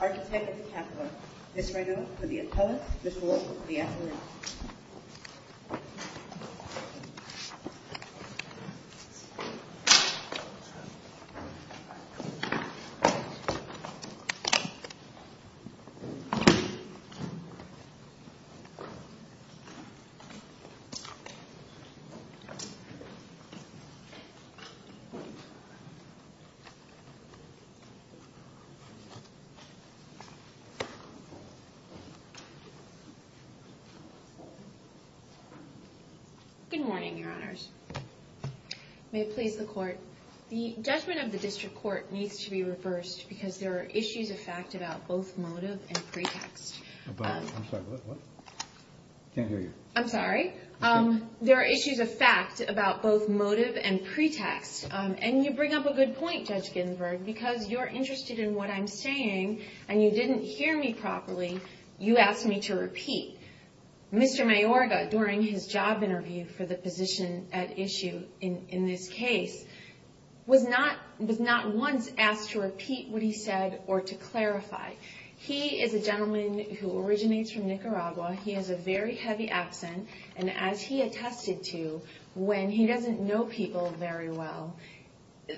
Architect of the Capital, Ms. Raynaud for the appellate, Ms. Wolfe for the affiliate. Good morning, Your Honors. May it please the Court, the judgment of the District Court needs to be reversed because there are issues of fact about both motive and pretext. I'm sorry, what? I can't hear you. I'm sorry. There are issues of fact about both motive and pretext. And you bring up a good point, Judge Ginsburg, because you're interested in what I'm saying, and you didn't hear me properly. You asked me to repeat. Mr. Mayorga, during his job interview for the position at issue in this case, was not once asked to repeat what he said or to clarify. He is a gentleman who originates from Nicaragua. He has a very heavy accent, and as he attested to when he doesn't know people very well,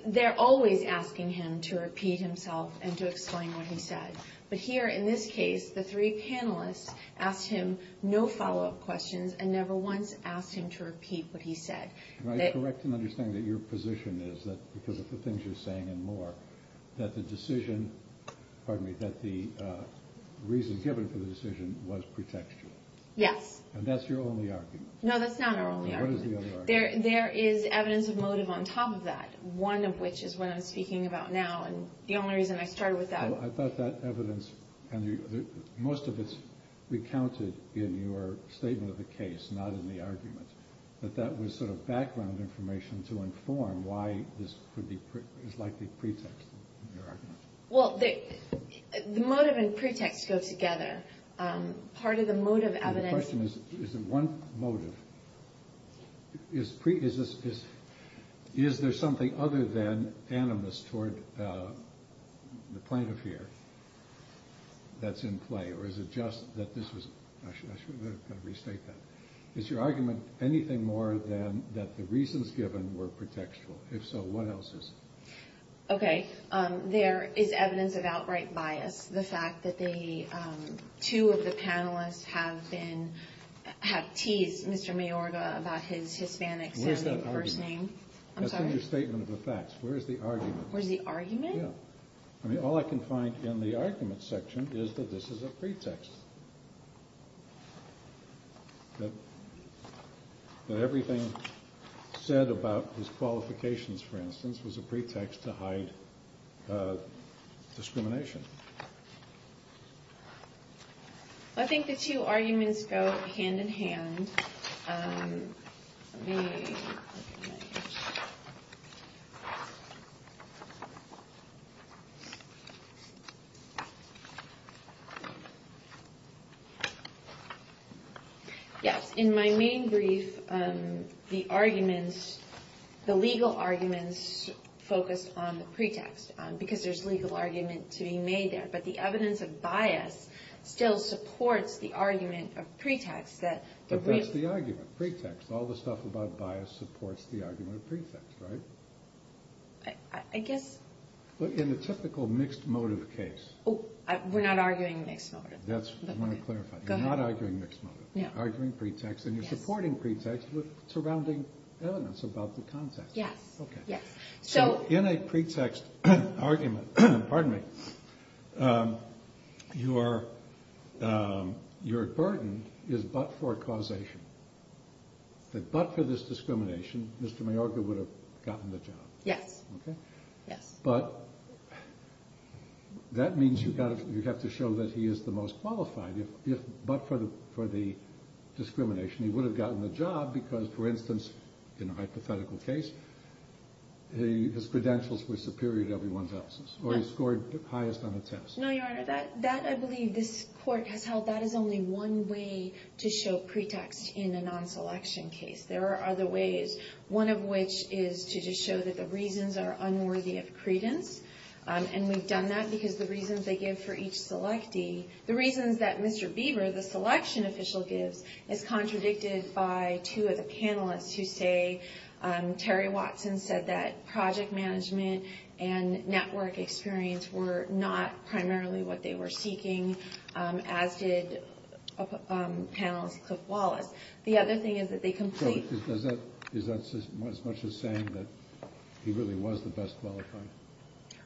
they're always asking him to repeat himself and to explain what he said. But here in this case, the three panelists asked him no follow-up questions and never once asked him to repeat what he said. Can I correct and understand that your position is, because of the things you're saying and more, that the reason given for the decision was pretextual? Yes. And that's your only argument? No, that's not our only argument. What is the only argument? There is evidence of motive on top of that, one of which is what I'm speaking about now, and the only reason I started with that. I thought that evidence, and most of it's recounted in your statement of the case, not in the argument, that that was sort of background information to inform why this is likely pretext in your argument. Well, the motive and pretext go together. Part of the motive evidence… The question is, is there one motive? Is there something other than animus toward the plaintiff here that's in play, or is it just that this was… I should have got to restate that. Is your argument anything more than that the reasons given were pretextual? If so, what else is it? Okay, there is evidence of outright bias. The fact that two of the panelists have teased Mr. Mayorga about his Hispanic-sounding first name. Where's that argument? I'm sorry? That's in your statement of the facts. Where's the argument? Where's the argument? All I can find in the argument section is that this is a pretext. That everything said about his qualifications, for instance, was a pretext to hide discrimination. I think the two arguments go hand-in-hand. Yes, in my main brief, the arguments, the legal arguments, focus on the pretext, because there's legal argument to be made there. But the evidence of bias still supports the argument of pretext that… But that's the argument, pretext. All the stuff about bias supports the argument of pretext, right? I guess… But in the typical mixed motive case… We're not arguing mixed motive. That's what I want to clarify. You're not arguing mixed motive. You're arguing pretext, and you're supporting pretext with surrounding evidence about the context. Yes, yes. So, in a pretext argument, your burden is but for causation. That but for this discrimination, Mr. Mayorga would have gotten the job. Yes. But that means you have to show that he is the most qualified, but for the discrimination. He would have gotten the job because, for instance, in a hypothetical case, his credentials were superior to everyone else's, or he scored highest on a test. No, Your Honor, that I believe this court has held that is only one way to show pretext in a non-selection case. There are other ways, one of which is to just show that the reasons are unworthy of credence. And we've done that because the reasons they give for each selectee, the reasons that Mr. Bieber, the selection official, gives, is contradicted by two of the panelists who say… Terry Watson said that project management and network experience were not primarily what they were seeking, as did panelist Cliff Wallace. The other thing is that they complete… So is that as much as saying that he really was the best qualifier?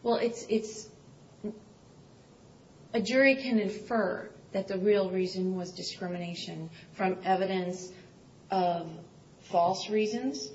Well, it's… A jury can infer that the real reason was discrimination from evidence of false reasons,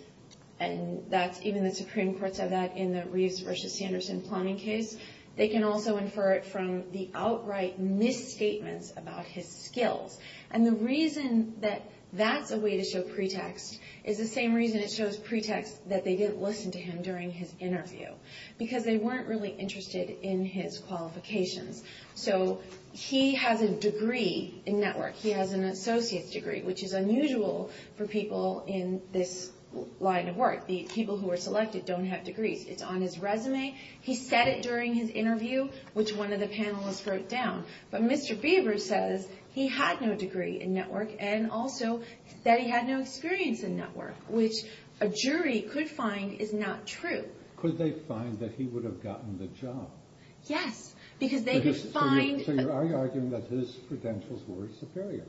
and even the Supreme Courts have that in the Reeves v. Sanderson plumbing case. They can also infer it from the outright misstatements about his skills. And the reason that that's a way to show pretext is the same reason it shows pretext that they didn't listen to him during his interview, because they weren't really interested in his qualifications. So he has a degree in network. He has an associate's degree, which is unusual for people in this line of work. The people who are selected don't have degrees. It's on his resume. He said it during his interview, which one of the panelists wrote down. But Mr. Beaver says he had no degree in network and also that he had no experience in network, which a jury could find is not true. Could they find that he would have gotten the job? Yes, because they could find… So you're arguing that his credentials were superior,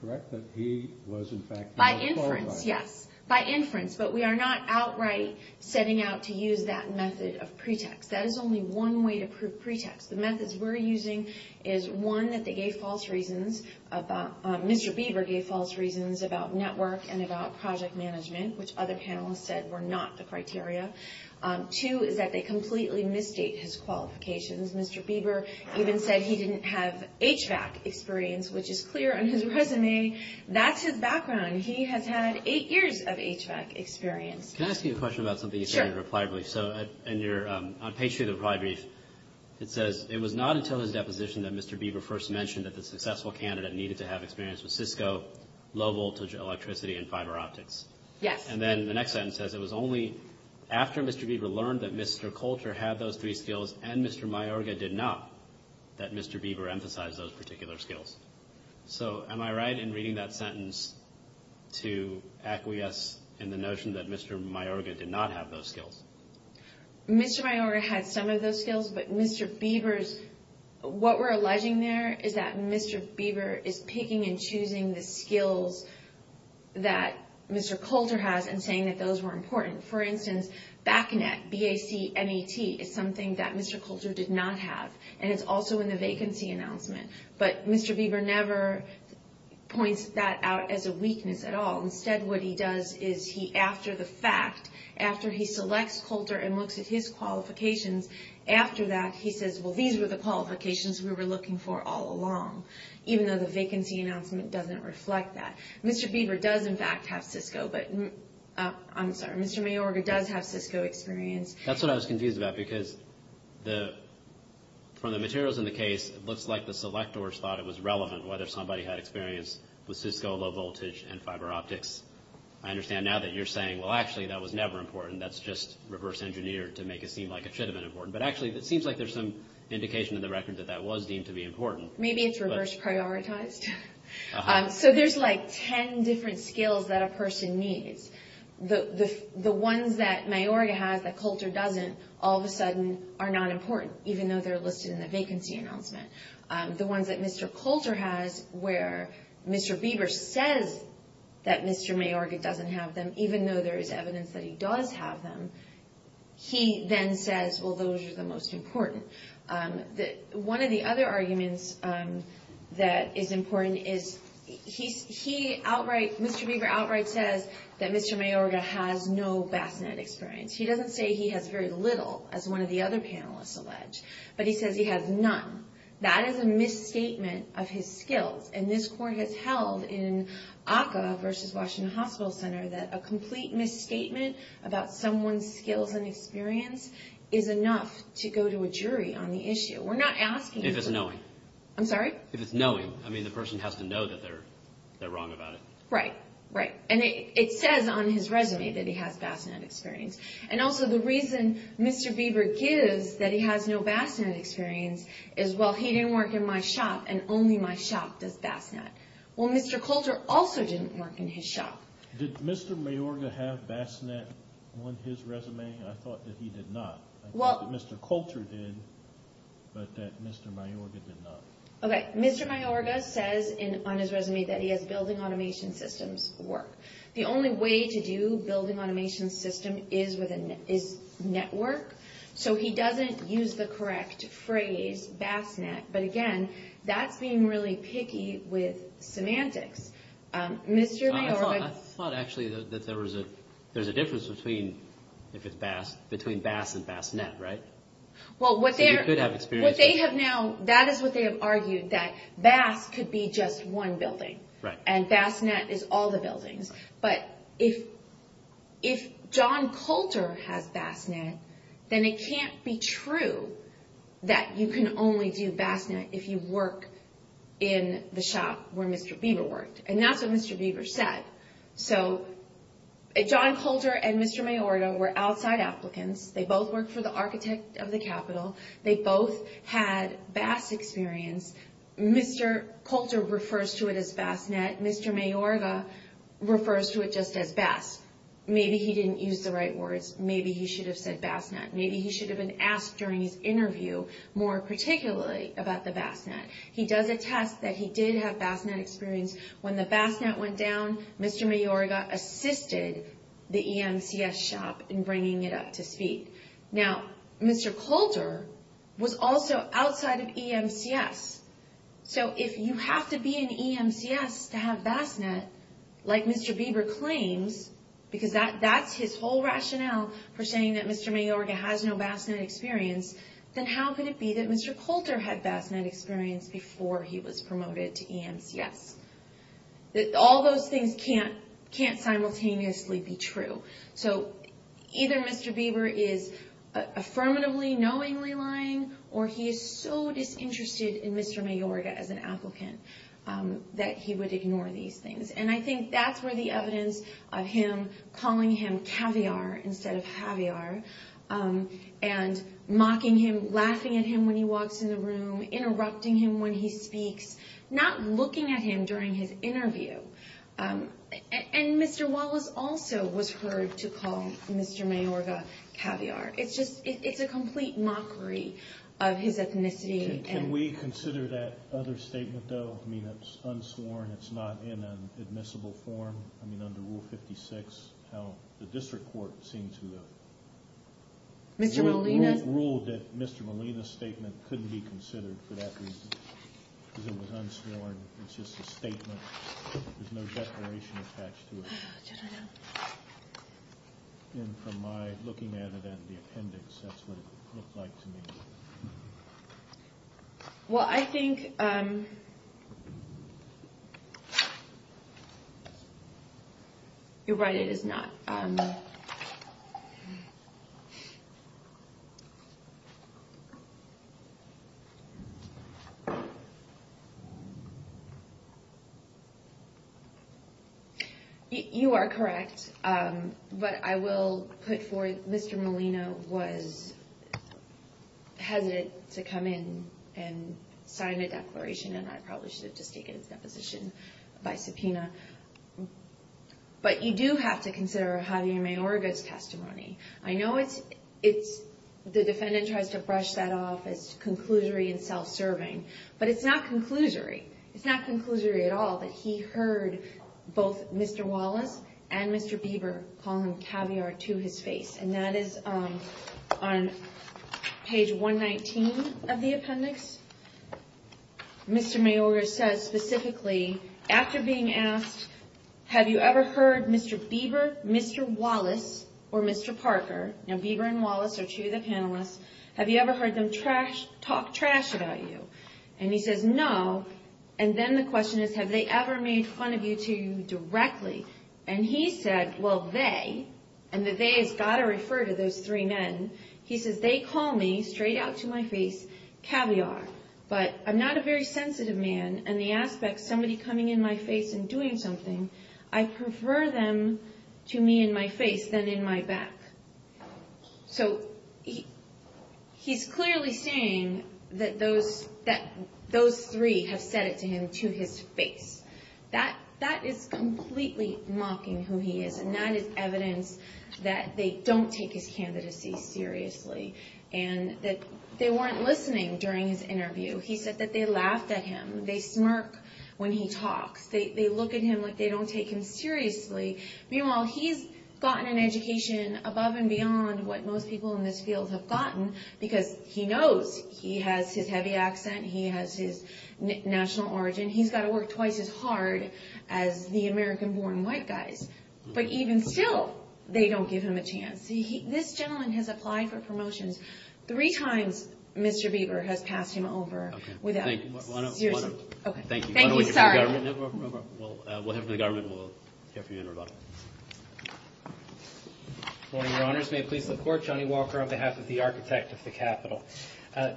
correct? That he was, in fact, a qualified… By inference, yes. By inference, but we are not outright setting out to use that method of pretext. That is only one way to prove pretext. The methods we're using is, one, that Mr. Beaver gave false reasons about network and about project management, which other panelists said were not the criteria. Two is that they completely misstate his qualifications. Mr. Beaver even said he didn't have HVAC experience, which is clear on his resume. That's his background. He has had eight years of HVAC experience. Can I ask you a question about something you said in your reply brief? Sure. On page 2 of the reply brief, it says, it was not until his deposition that Mr. Beaver first mentioned that the successful candidate needed to have experience with Cisco, low-voltage electricity, and fiber optics. Yes. And then the next sentence says it was only after Mr. Beaver learned that Mr. Coulter had those three skills and Mr. Mayorga did not that Mr. Beaver emphasized those particular skills. So am I right in reading that sentence to acquiesce in the notion that Mr. Mayorga did not have those skills? Mr. Mayorga had some of those skills, but Mr. Beaver's – what we're alleging there is that Mr. Beaver is picking and choosing the skills that Mr. Coulter has and saying that those were important. For instance, BACNET, B-A-C-N-E-T, is something that Mr. Coulter did not have, and it's also in the vacancy announcement. But Mr. Beaver never points that out as a weakness at all. Instead, what he does is he, after the fact, after he selects Coulter and looks at his qualifications, after that he says, well, these were the qualifications we were looking for all along, even though the vacancy announcement doesn't reflect that. Mr. Beaver does, in fact, have Cisco, but – I'm sorry. Mr. Mayorga does have Cisco experience. That's what I was confused about because from the materials in the case, it looks like the selectors thought it was relevant whether somebody had experience with Cisco low voltage and fiber optics. I understand now that you're saying, well, actually, that was never important. That's just reverse engineered to make it seem like it should have been important. But actually, it seems like there's some indication in the record that that was deemed to be important. Maybe it's reverse prioritized. So there's, like, ten different skills that a person needs. The ones that Mayorga has that Coulter doesn't all of a sudden are not important, even though they're listed in the vacancy announcement. The ones that Mr. Coulter has where Mr. Beaver says that Mr. Mayorga doesn't have them, even though there is evidence that he does have them, he then says, well, those are the most important. One of the other arguments that is important is he outright – Mr. Beaver outright says that Mr. Mayorga has no bassinet experience. He doesn't say he has very little, as one of the other panelists allege, but he says he has none. That is a misstatement of his skills. And this court has held in ACCA versus Washington Hospital Center that a complete misstatement about someone's skills and experience is enough to go to a jury on the issue. We're not asking – If it's knowing. I'm sorry? If it's knowing. I mean, the person has to know that they're wrong about it. Right. Right. And it says on his resume that he has bassinet experience. And also, the reason Mr. Beaver gives that he has no bassinet experience is, well, he didn't work in my shop, and only my shop does bassinet. Well, Mr. Coulter also didn't work in his shop. Did Mr. Mayorga have bassinet on his resume? I thought that he did not. I thought that Mr. Coulter did, but that Mr. Mayorga did not. Okay. Mr. Mayorga says on his resume that he has building automation systems work. The only way to do building automation system is network. So he doesn't use the correct phrase, bassinet. But, again, that's being really picky with semantics. Mr. Mayorga – I thought, actually, that there was a difference between – if it's bass – between bass and bassinet, right? Well, what they're – So you could have experience. What they have now – that is what they have argued, that bass could be just one building. Right. And bassinet is all the buildings. But if John Coulter has bassinet, then it can't be true that you can only do bassinet if you work in the shop where Mr. Bieber worked. And that's what Mr. Bieber said. So John Coulter and Mr. Mayorga were outside applicants. They both worked for the architect of the Capitol. They both had bass experience. Mr. Coulter refers to it as bassinet. Mr. Mayorga refers to it just as bass. Maybe he didn't use the right words. Maybe he should have said bassinet. Maybe he should have been asked during his interview more particularly about the bassinet. He does attest that he did have bassinet experience. When the bassinet went down, Mr. Mayorga assisted the EMCS shop in bringing it up to speed. Now, Mr. Coulter was also outside of EMCS. So if you have to be in EMCS to have bassinet, like Mr. Bieber claims, because that's his whole rationale for saying that Mr. Mayorga has no bassinet experience, then how could it be that Mr. Coulter had bassinet experience before he was promoted to EMCS? All those things can't simultaneously be true. So either Mr. Bieber is affirmatively, knowingly lying, or he is so disinterested in Mr. Mayorga as an applicant that he would ignore these things. And I think that's where the evidence of him calling him caviar instead of Javier and mocking him, laughing at him when he walks in the room, interrupting him when he speaks, not looking at him during his interview. And Mr. Wallace also was heard to call Mr. Mayorga caviar. It's a complete mockery of his ethnicity. Can we consider that other statement, though? I mean, it's unsworn. It's not in an admissible form. I mean, under Rule 56, how the district court seemed to have ruled that Mr. Molina's statement couldn't be considered for that reason. Because it was unsworn. It's just a statement. There's no declaration attached to it. And from my looking at it in the appendix, that's what it looked like to me. Well, I think... You're right, it is not. You are correct. But I will put forward that Mr. Molina was hesitant to come in and sign a declaration, and I probably should have just taken his deposition by subpoena. But you do have to consider Javier Mayorga's testimony. I know the defendant tries to brush that off as conclusory and self-serving. But it's not conclusory. It's not conclusory at all that he heard both Mr. Wallace and Mr. Bieber calling Javier to his face. And that is on page 119 of the appendix. Mr. Mayorga says specifically, after being asked, Have you ever heard Mr. Bieber, Mr. Wallace, or Mr. Parker... Now, Bieber and Wallace are two of the panelists. Have you ever heard them talk trash about you? And he says, no. And then the question is, have they ever made fun of you two directly? And he said, well, they... And the they has got to refer to those three men. He says, they call me, straight out to my face, Javier. But I'm not a very sensitive man. And the aspect, somebody coming in my face and doing something, I prefer them to me in my face than in my back. So he's clearly saying that those three have said it to him to his face. That is completely mocking who he is. And that is evidence that they don't take his candidacy seriously. And that they weren't listening during his interview. He said that they laughed at him. They smirk when he talks. They look at him like they don't take him seriously. Meanwhile, he's gotten an education above and beyond what most people in this field have gotten. Because he knows he has his heavy accent. He has his national origin. He's got to work twice as hard as the American-born white guys. But even still, they don't give him a chance. This gentleman has applied for promotions three times Mr. Bieber has passed him over. Okay. Thank you. Thank you. Sorry. We'll hear from the government and we'll hear from you in Rhode Island. Good morning, Your Honors. May it please the Court. Johnny Walker on behalf of the Architect of the Capitol.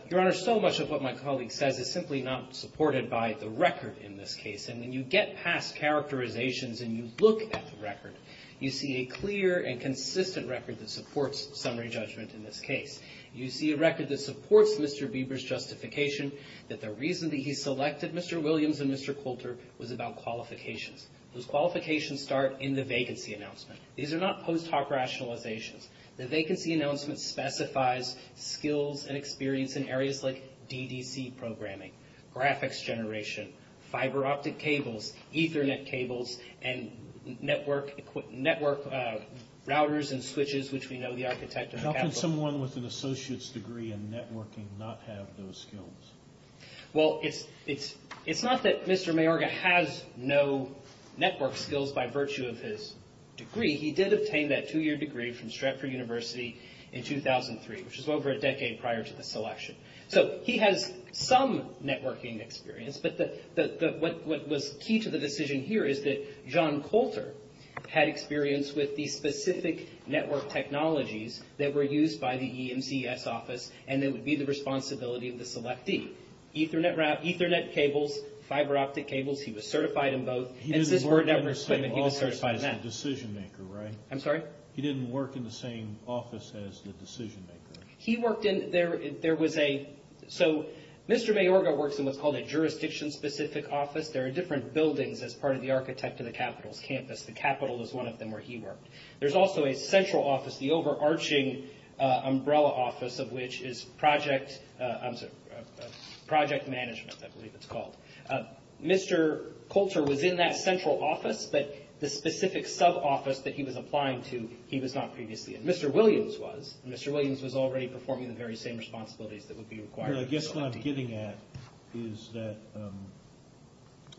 Your Honor, so much of what my colleague says is simply not supported by the record in this case. And when you get past characterizations and you look at the record, you see a clear and consistent record that supports summary judgment in this case. You see a record that supports Mr. Bieber's justification that the reason that he selected Mr. Williams and Mr. Coulter was about qualifications. Those qualifications start in the vacancy announcement. These are not post hoc rationalizations. The vacancy announcement specifies skills and experience in areas like DDC programming, graphics generation, fiber optic cables, Ethernet cables, and network routers and switches, which we know the Architect of the Capitol. How can someone with an associate's degree in networking not have those skills? Well, it's not that Mr. Mayorga has no network skills by virtue of his degree. He did obtain that two-year degree from Stratford University in 2003, which is over a decade prior to the selection. So he has some networking experience, but what was key to the decision here is that John Coulter had experience with the specific network technologies that were used by the EMCS office and that would be the responsibility of the selectee. Ethernet cables, fiber optic cables, he was certified in both. He didn't work in the same office as the decision maker, right? I'm sorry? He didn't work in the same office as the decision maker. He worked in – there was a – so Mr. Mayorga works in what's called a jurisdiction-specific office. There are different buildings as part of the Architect of the Capitol's campus. The Capitol is one of them where he worked. There's also a central office, the overarching umbrella office, of which is project management, I believe it's called. Mr. Coulter was in that central office, but the specific sub-office that he was applying to, he was not previously in. Mr. Williams was. Mr. Williams was already performing the very same responsibilities that would be required of the selectee. I guess what I'm getting at is that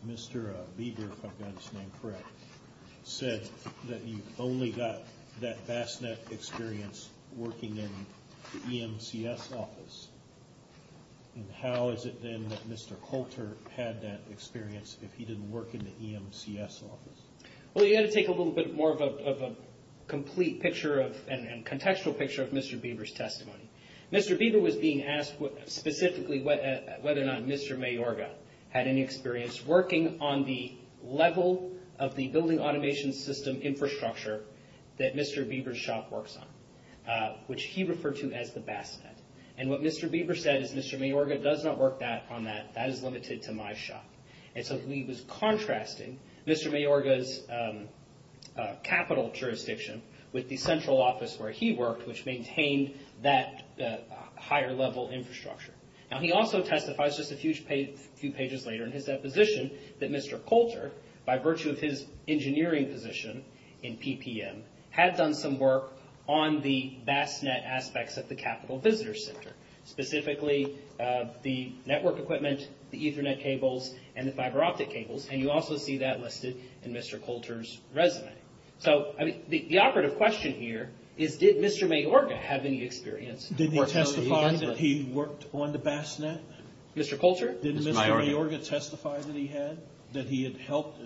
Mr. Lieber, if I've got his name correct, said that you only got that vast net experience working in the EMCS office. How is it then that Mr. Coulter had that experience if he didn't work in the EMCS office? Well, you've got to take a little bit more of a complete picture of – and contextual picture of Mr. Lieber's testimony. Mr. Lieber was being asked specifically whether or not Mr. Mayorga had any experience working on the level of the building automation system infrastructure that Mr. Lieber's shop works on, which he referred to as the vast net. And what Mr. Lieber said is Mr. Mayorga does not work on that. That is limited to my shop. And so he was contrasting Mr. Mayorga's capital jurisdiction with the central office where he worked, which maintained that higher level infrastructure. Now, he also testifies just a few pages later in his deposition that Mr. Coulter, by virtue of his engineering position in PPM, had done some work on the vast net aspects of the Capital Visitor Center, specifically the network equipment, the Ethernet cables, and the fiber optic cables. And you also see that listed in Mr. Coulter's resume. So, I mean, the operative question here is did Mr. Mayorga have any experience? Did he testify that he worked on the vast net? Mr. Coulter? Did Mr. Mayorga testify that he had? That he had helped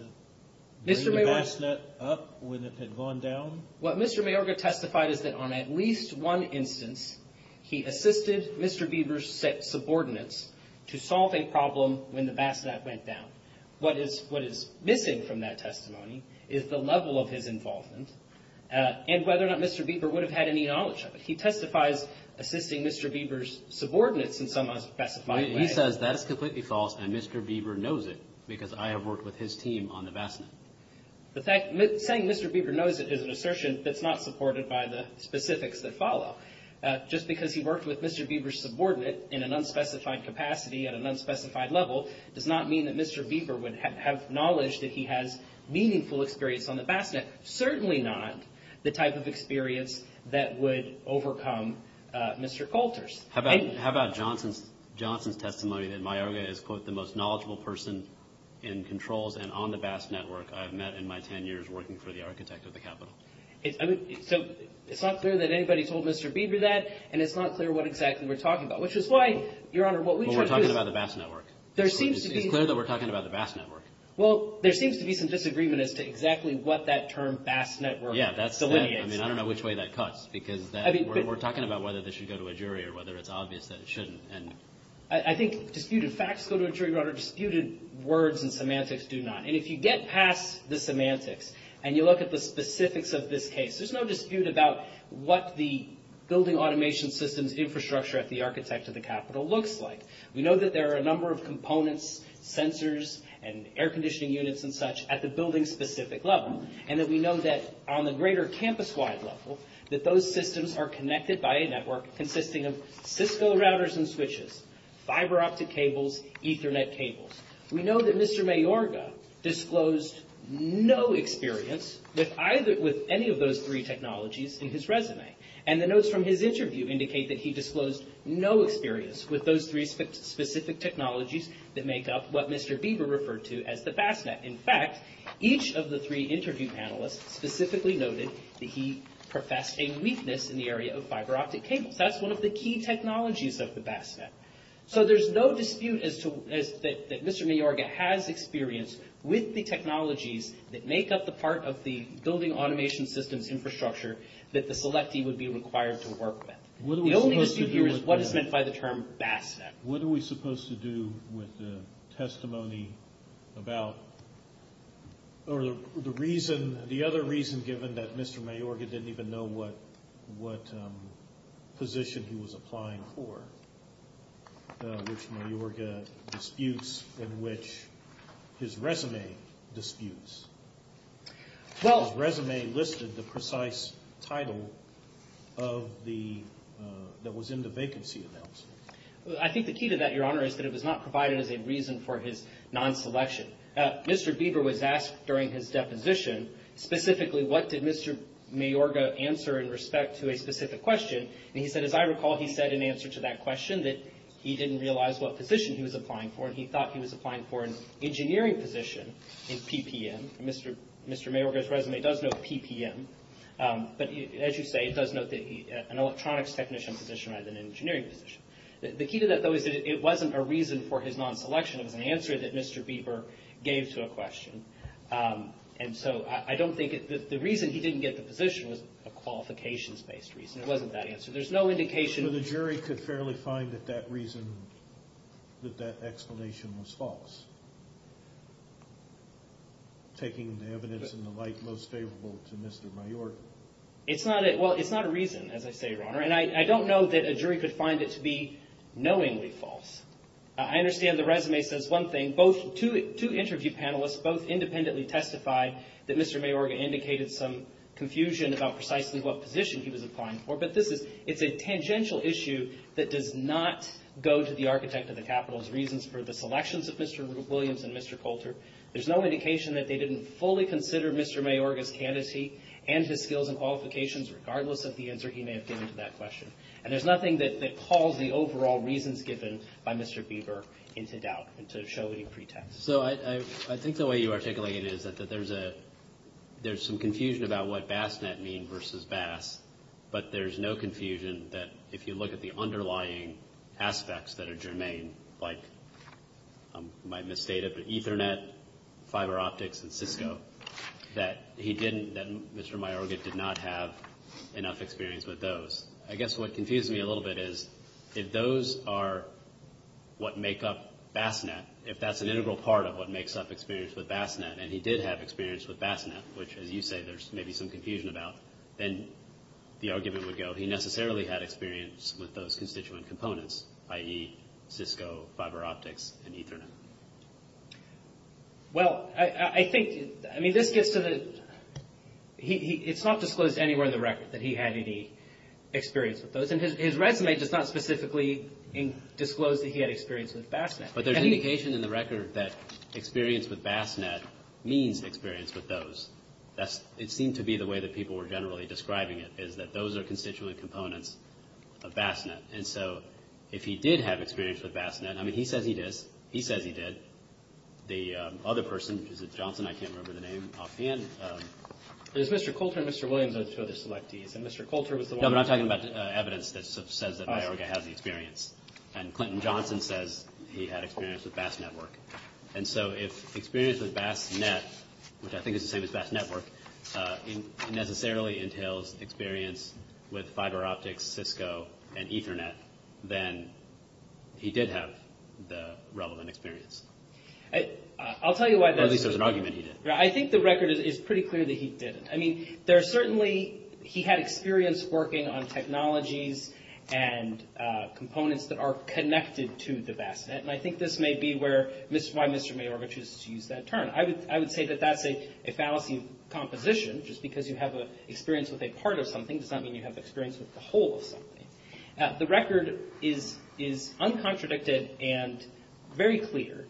bring the vast net up when it had gone down? What Mr. Mayorga testified is that on at least one instance, he assisted Mr. Lieber's subordinates to solve a problem when the vast net went down. What is missing from that testimony is the level of his involvement and whether or not Mr. Lieber would have had any knowledge of it. He testifies assisting Mr. Lieber's subordinates in some specified way. He says that is completely false and Mr. Lieber knows it because I have worked with his team on the vast net. Saying Mr. Lieber knows it is an assertion that is not supported by the specifics that follow. Just because he worked with Mr. Lieber's subordinate in an unspecified capacity at an unspecified level does not mean that Mr. Lieber would have knowledge that he has meaningful experience on the vast net. Certainly not the type of experience that would overcome Mr. Coulter's. How about Johnson's testimony that Mayorga is, quote, the most knowledgeable person in controls and on the vast network I have met in my 10 years working for the architect of the capitol? It's not clear that anybody told Mr. Lieber that and it's not clear what exactly we're talking about. Which is why, Your Honor, what we're trying to do is... We're talking about the vast network. It's clear that we're talking about the vast network. Well, there seems to be some disagreement as to exactly what that term vast network delineates. I don't know which way that cuts because we're talking about whether this should go to a jury or whether it's obvious that it shouldn't. I think disputed facts go to a jury, Your Honor. Disputed words and semantics do not. And if you get past the semantics and you look at the specifics of this case, there's no dispute about what the building automation systems infrastructure at the architect of the capitol looks like. We know that there are a number of components, sensors, and air conditioning units and such at the building-specific level. And that we know that on the greater campus-wide level, that those systems are connected by a network consisting of Cisco routers and switches, fiber-optic cables, Ethernet cables. We know that Mr. Mayorga disclosed no experience with any of those three technologies in his resume. And the notes from his interview indicate that he disclosed no experience with those three specific technologies that make up what Mr. Bieber referred to as the vast net. In fact, each of the three interview panelists specifically noted that he professed a weakness in the area of fiber-optic cables. That's one of the key technologies of the vast net. So there's no dispute that Mr. Mayorga has experience with the technologies that make up the part of the building automation systems infrastructure that the selectee would be required to work with. The only dispute here is what is meant by the term vast net. What are we supposed to do with the testimony about, or the reason, the other reason given that Mr. Mayorga didn't even know what position he was applying for, which Mayorga disputes and which his resume disputes? His resume listed the precise title of the, that was in the vacancy announcement. I think the key to that, Your Honor, is that it was not provided as a reason for his non-selection. Mr. Bieber was asked during his deposition specifically what did Mr. Mayorga answer in respect to a specific question. And he said, as I recall, he said in answer to that question that he didn't realize what position he was applying for, and he thought he was applying for an engineering position in PPM. Mr. Mayorga's resume does note PPM. But as you say, it does note an electronics technician position rather than an engineering position. The key to that, though, is that it wasn't a reason for his non-selection. It was an answer that Mr. Bieber gave to a question. And so I don't think the reason he didn't get the position was a qualifications-based reason. It wasn't that answer. But the jury could fairly find that that reason, that that explanation was false, taking the evidence in the light most favorable to Mr. Mayorga. It's not a reason, as I say, Your Honor. And I don't know that a jury could find it to be knowingly false. I understand the resume says one thing. Two interview panelists both independently testified that Mr. Mayorga indicated some confusion about precisely what position he was applying for. But it's a tangential issue that does not go to the architect of the capitol's reasons for the selections of Mr. Williams and Mr. Coulter. There's no indication that they didn't fully consider Mr. Mayorga's candidacy and his skills and qualifications, regardless of the answer he may have given to that question. And there's nothing that calls the overall reasons given by Mr. Bieber into doubt and to show any pretext. So I think the way you articulate it is that there's some confusion about what bassnet mean versus bass, but there's no confusion that if you look at the underlying aspects that are germane, like you might misstate it, but Ethernet, fiber optics, and Cisco, that he didn't, that Mr. Mayorga did not have enough experience with those. I guess what confused me a little bit is if those are what make up bassnet, if that's an integral part of what makes up experience with bassnet and he did have experience with bassnet, which, as you say, there's maybe some confusion about, then the argument would go, he necessarily had experience with those constituent components, i.e., Cisco, fiber optics, and Ethernet. Well, I think, I mean, this gets to the, it's not disclosed anywhere in the record that he had any experience with those, and his resume does not specifically disclose that he had experience with bassnet. But there's indication in the record that experience with bassnet means experience with those. That's, it seemed to be the way that people were generally describing it, is that those are constituent components of bassnet. And so if he did have experience with bassnet, I mean, he says he did. He says he did. The other person, is it Johnson? I can't remember the name offhand. There's Mr. Coulter and Mr. Williams are the two other selectees, and Mr. Coulter was the one. No, but I'm talking about evidence that says that Mayorga has the experience, and Clinton Johnson says he had experience with bassnetwork. And so if experience with bassnet, which I think is the same as bassnetwork, necessarily entails experience with fiber optics, Cisco, and Ethernet, then he did have the relevant experience. I'll tell you why that is. At least there's an argument he did. I think the record is pretty clear that he didn't. I mean, there's certainly, he had experience working on technologies and components that are connected to the bassnet, and I think this may be where, why Mr. Mayorga chooses to use that term. I would say that that's a fallacy composition, just because you have experience with a part of something does not mean you have experience with the whole of something. The record is uncontradicted and very clear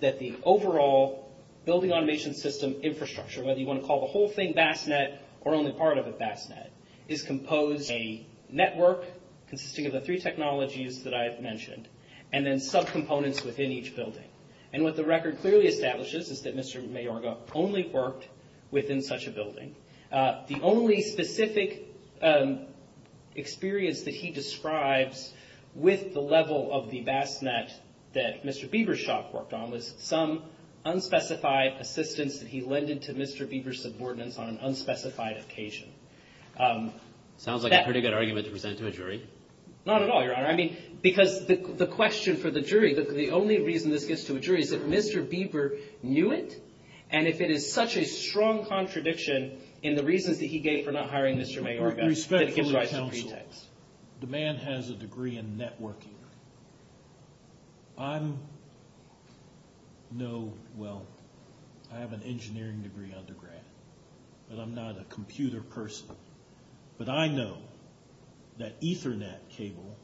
that the overall building automation system infrastructure, whether you want to call the whole thing bassnet or only part of it bassnet, is composed of a network consisting of the three technologies that I have mentioned, and then subcomponents within each building. And what the record clearly establishes is that Mr. Mayorga only worked within such a building. The only specific experience that he describes with the level of the bassnet that Mr. Bebershock worked on was some unspecified assistance that he lended to Mr. Beber's subordinates on an unspecified occasion. Sounds like a pretty good argument to present to a jury. Not at all, Your Honor. I mean, because the question for the jury, the only reason this gets to a jury, is if Mr. Beber knew it, and if it is such a strong contradiction in the reasons that he gave for not hiring Mr. Mayorga that it gives rise to pretext. Respectfully counsel, the man has a degree in networking. I'm, no, well, I have an engineering degree undergrad, but I'm not a computer person. But I know that Ethernet cable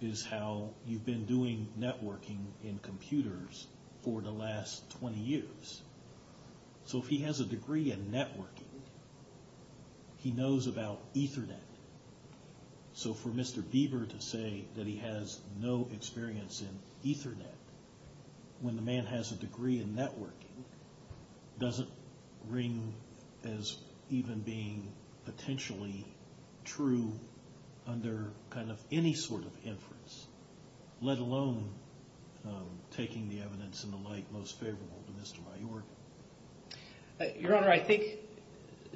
is how you've been doing networking in computers for the last 20 years. So if he has a degree in networking, he knows about Ethernet. So for Mr. Beber to say that he has no experience in Ethernet when the man has a degree in networking, doesn't ring as even being potentially true under kind of any sort of inference, let alone taking the evidence in the light most favorable to Mr. Mayorga. Your Honor, I think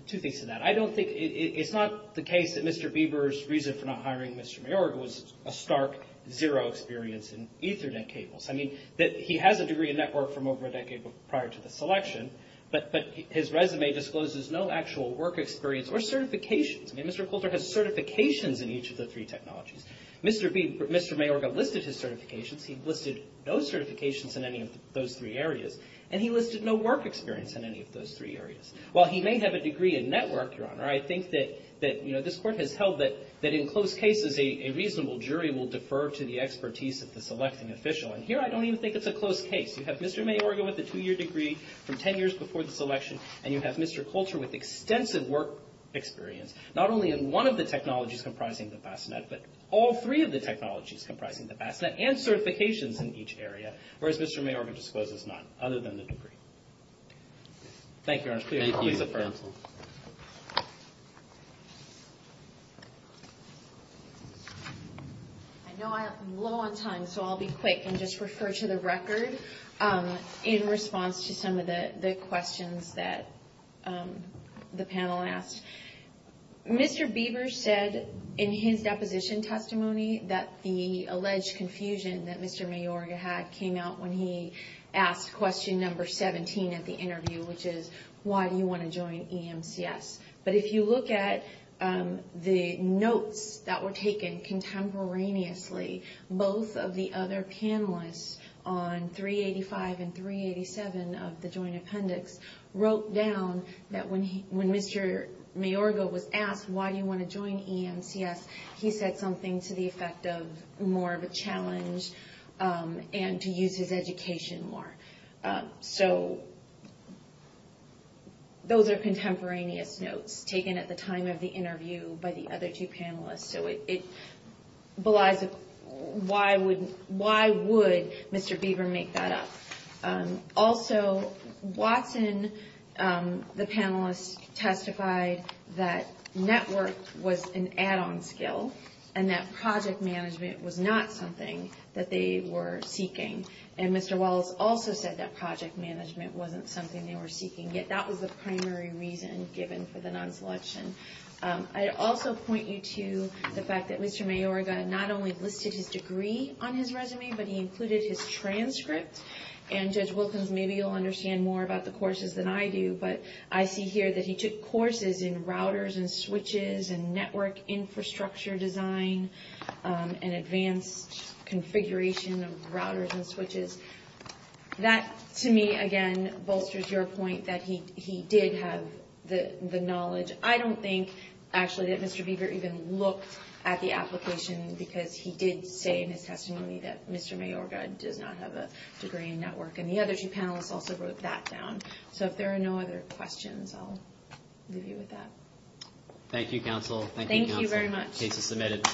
two things to that. I don't think, it's not the case that Mr. Beber's reason for not hiring Mr. Mayorga was a stark zero experience in Ethernet cables. I mean, that he has a degree in network from over a decade prior to the selection, but his resume discloses no actual work experience or certifications. I mean, Mr. Coulter has certifications in each of the three technologies. Mr. Mayorga listed his certifications. He listed no certifications in any of those three areas. And he listed no work experience in any of those three areas. While he may have a degree in network, Your Honor, I think that this Court has held that in close cases, a reasonable jury will defer to the expertise of the selecting official. And here I don't even think it's a close case. You have Mr. Mayorga with a two-year degree from ten years before the selection, and you have Mr. Coulter with extensive work experience, not only in one of the technologies comprising the Bassinet, but all three of the technologies comprising the Bassinet and certifications in each area, whereas Mr. Mayorga discloses none other than the degree. Thank you, Your Honor. I know I'm low on time, so I'll be quick and just refer to the record in response to some of the questions that the panel asked. Mr. Beaver said in his deposition testimony that the alleged confusion that Mr. Mayorga had came out when he asked question number 17 at the interview, which is why do you want to join EMCS? But if you look at the notes that were taken contemporaneously, both of the other panelists on 385 and 387 of the joint appendix wrote down that when Mr. Mayorga was asked why do you want to join EMCS, and to use his education more. So those are contemporaneous notes taken at the time of the interview by the other two panelists, so it belies why would Mr. Beaver make that up? Also, Watson, the panelist, testified that network was an add-on skill and that project management was not something that they were seeking. And Mr. Wallace also said that project management wasn't something they were seeking, yet that was the primary reason given for the non-selection. I'd also point you to the fact that Mr. Mayorga not only listed his degree on his resume, but he included his transcript. And Judge Wilkins, maybe you'll understand more about the courses than I do, but I see here that he took courses in routers and switches and network infrastructure design and advanced configuration of routers and switches. That, to me, again, bolsters your point that he did have the knowledge. I don't think, actually, that Mr. Beaver even looked at the application because he did say in his testimony that Mr. Mayorga does not have a degree in network, and the other two panelists also wrote that down. So if there are no other questions, I'll leave you with that. Thank you, counsel. Thank you, counsel. Thank you very much. Case is submitted.